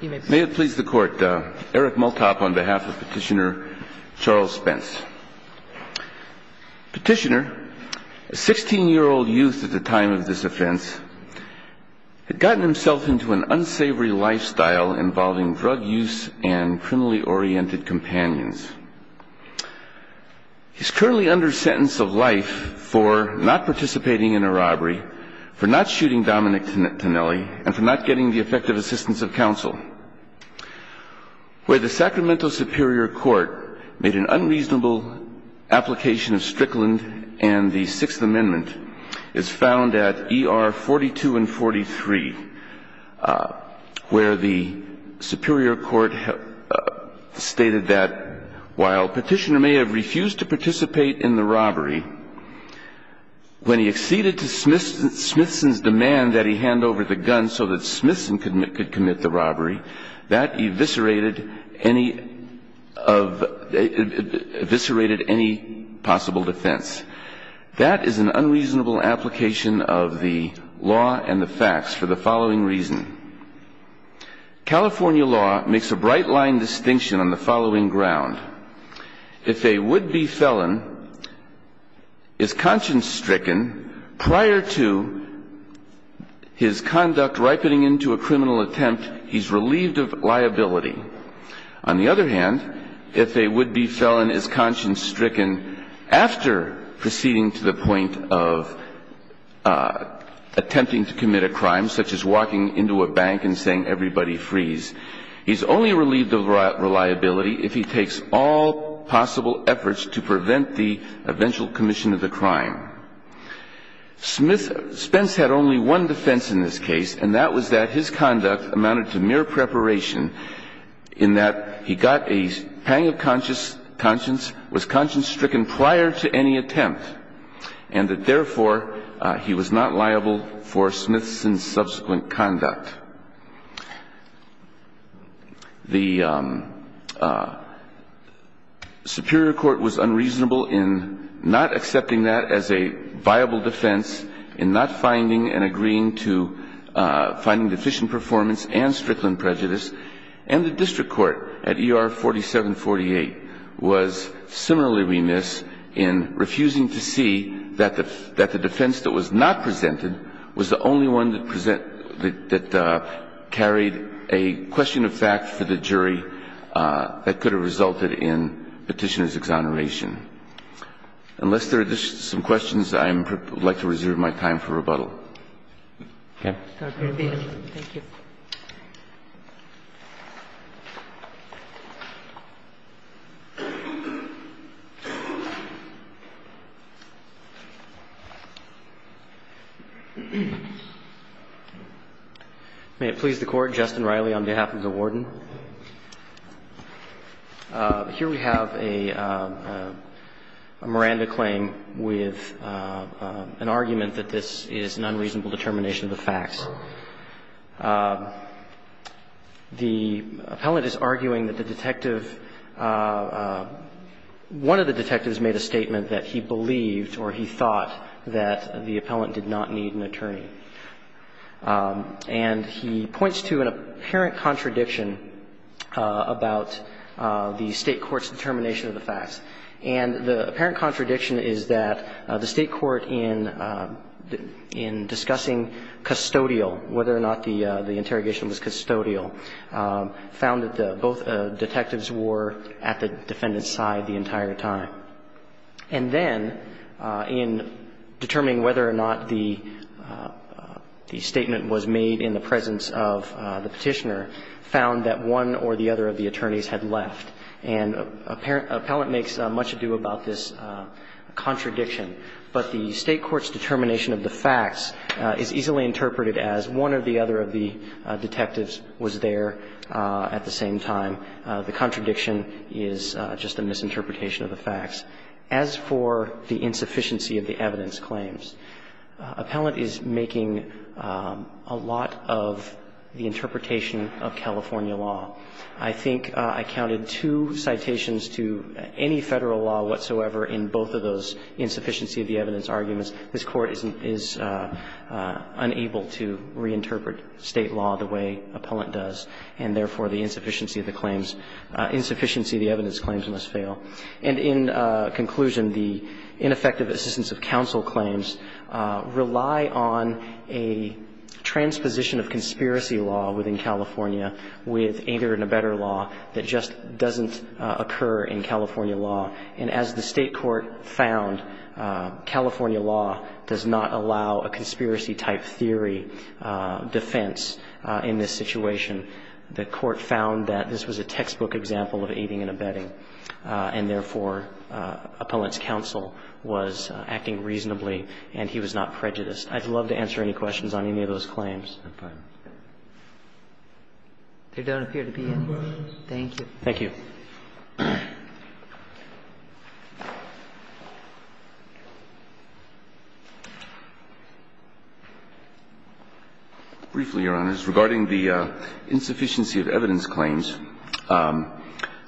May it please the Court, Eric Multop on behalf of Petitioner Charles Spence. Petitioner, a 16-year-old youth at the time of this offense, had gotten himself into an unsavory lifestyle involving drug use and criminally oriented companions. He's currently under sentence of life for not participating in a robbery, for not shooting Dominic Tonelli, and for not getting the effective assistance of counsel. Where the Sacramento Superior Court made an unreasonable application of Strickland and the Sixth Amendment is found at ER 42 and 43, where the Superior Court stated that while Petitioner may have refused to participate in the robbery, when he acceded to Smithson's demand that he hand over the gun so that Smithson could commit the robbery, that eviscerated any possible defense. That is an unreasonable application of the law and the facts for the following reason. California law makes a bright line distinction on the following ground. If a would-be felon is conscience stricken prior to his conduct ripening into a criminal attempt, he's relieved of liability. On the other hand, if a would-be felon is conscience stricken after proceeding to the point of attempting to commit a crime, such as walking into a bank and saying, he's only relieved of reliability if he takes all possible efforts to prevent the eventual commission of the crime. Spence had only one defense in this case, and that was that his conduct amounted to mere preparation in that he got a pang of conscience, was conscience stricken prior to any attempt, and that therefore he was not liable for Smithson's subsequent conduct. The Superior Court was unreasonable in not accepting that as a viable defense, in not finding and agreeing to finding deficient performance and strickland prejudice, and the District Court at ER 4748 was similarly remiss in refusing to see that the defense that was not presented was the only one that carried a question of fact for the jury that could have resulted in Petitioner's exoneration. Unless there are some questions, I would like to reserve my time for rebuttal. Okay. Thank you. May it please the Court. Justin Riley on behalf of the Warden. Here we have a Miranda claim with an argument that this is an unreasonable determination of the facts. The appellant is arguing that the detective – one of the detectives made a statement that he believed or he thought that the appellant did not need an attorney. And he points to an apparent contradiction about the State court's determination of the facts. And the apparent contradiction is that the State court in discussing custodial, whether or not the interrogation was custodial, found that both detectives were at the defendant's side the entire time. And then, in determining whether or not the statement was made in the presence of the Petitioner, found that one or the other of the attorneys had left. And appellant makes much ado about this contradiction. But the State court's determination of the facts is easily interpreted as one or the other of the detectives was there at the same time. The contradiction is just a misinterpretation of the facts. As for the insufficiency of the evidence claims, appellant is making a lot of the interpretation of California law. I think I counted two citations to any Federal law whatsoever in both of those insufficiency of the evidence arguments. This Court is unable to reinterpret State law the way appellant does, and therefore the insufficiency of the claims – insufficiency of the evidence claims must fail. And in conclusion, the ineffective assistance of counsel claims rely on a transposition of conspiracy law within California with aider and abetter law that just doesn't occur in California law. And as the State court found, California law does not allow a conspiracy-type theory defense in this situation. The court found that this was a textbook example of aiding and abetting, and therefore appellant's counsel was acting reasonably and he was not prejudiced. I'd love to answer any questions on any of those claims. If I may. There don't appear to be any questions. Thank you. Thank you. Briefly, Your Honors, regarding the insufficiency of evidence claims,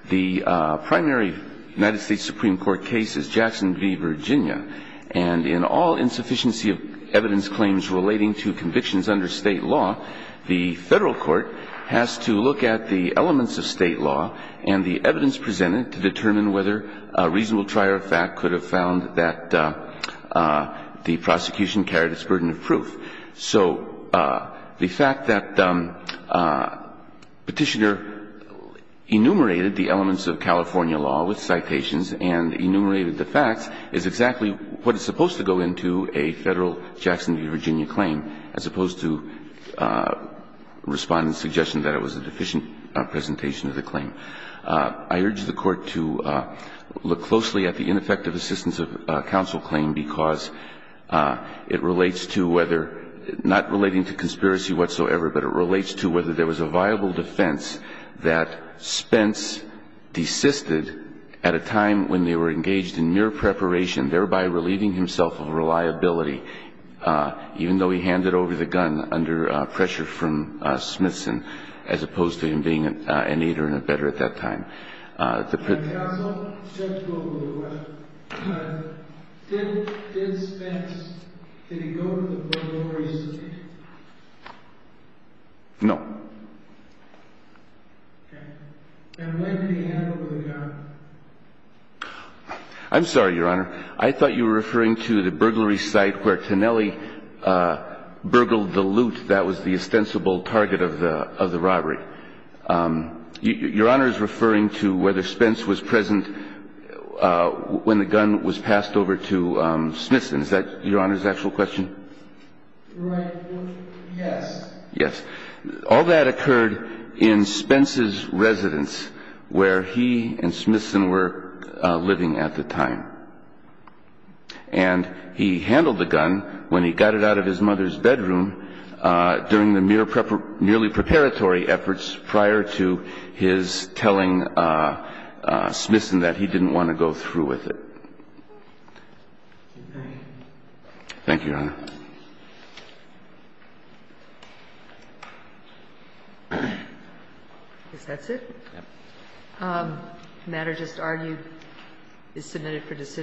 the primary United States Supreme Court case is Jackson v. Virginia. And in all insufficiency of evidence claims relating to convictions under State law, the Federal court has to look at the elements of State law and the evidence presented to determine whether a reasonable trier of fact could have found that the prosecution carried its burden of proof. So the fact that Petitioner enumerated the elements of California law with citations and enumerated the facts is exactly what is supposed to go into a Federal Jackson v. Virginia claim, as opposed to Respondent's suggestion that it was a deficient presentation of the claim. I urge the Court to look closely at the ineffective assistance of counsel claim because it relates to whether, not relating to conspiracy whatsoever, but it relates to whether there was a viable defense that Spence desisted at a time when they were engaged in mere preparation, thereby relieving himself of reliability, even though he handed over the gun under pressure from Smithson, as opposed to him being an aider and a better at that time. And counsel, just to go over the question, did Spence, did he go to the burglary site? No. Okay. And when did he hand over the gun? I'm sorry, Your Honor. I thought you were referring to the burglary site where Tinelli burgled the loot that was the ostensible target of the robbery. Your Honor is referring to whether Spence was present when the gun was passed over to Smithson. Is that Your Honor's actual question? Right. Yes. Yes. All that occurred in Spence's residence where he and Smithson were living at the time. And he handled the gun when he got it out of his mother's bedroom during the mere preparatory efforts prior to his telling Smithson that he didn't want to go through with it. Thank you, Your Honor. I guess that's it. The matter just argued is submitted for decision.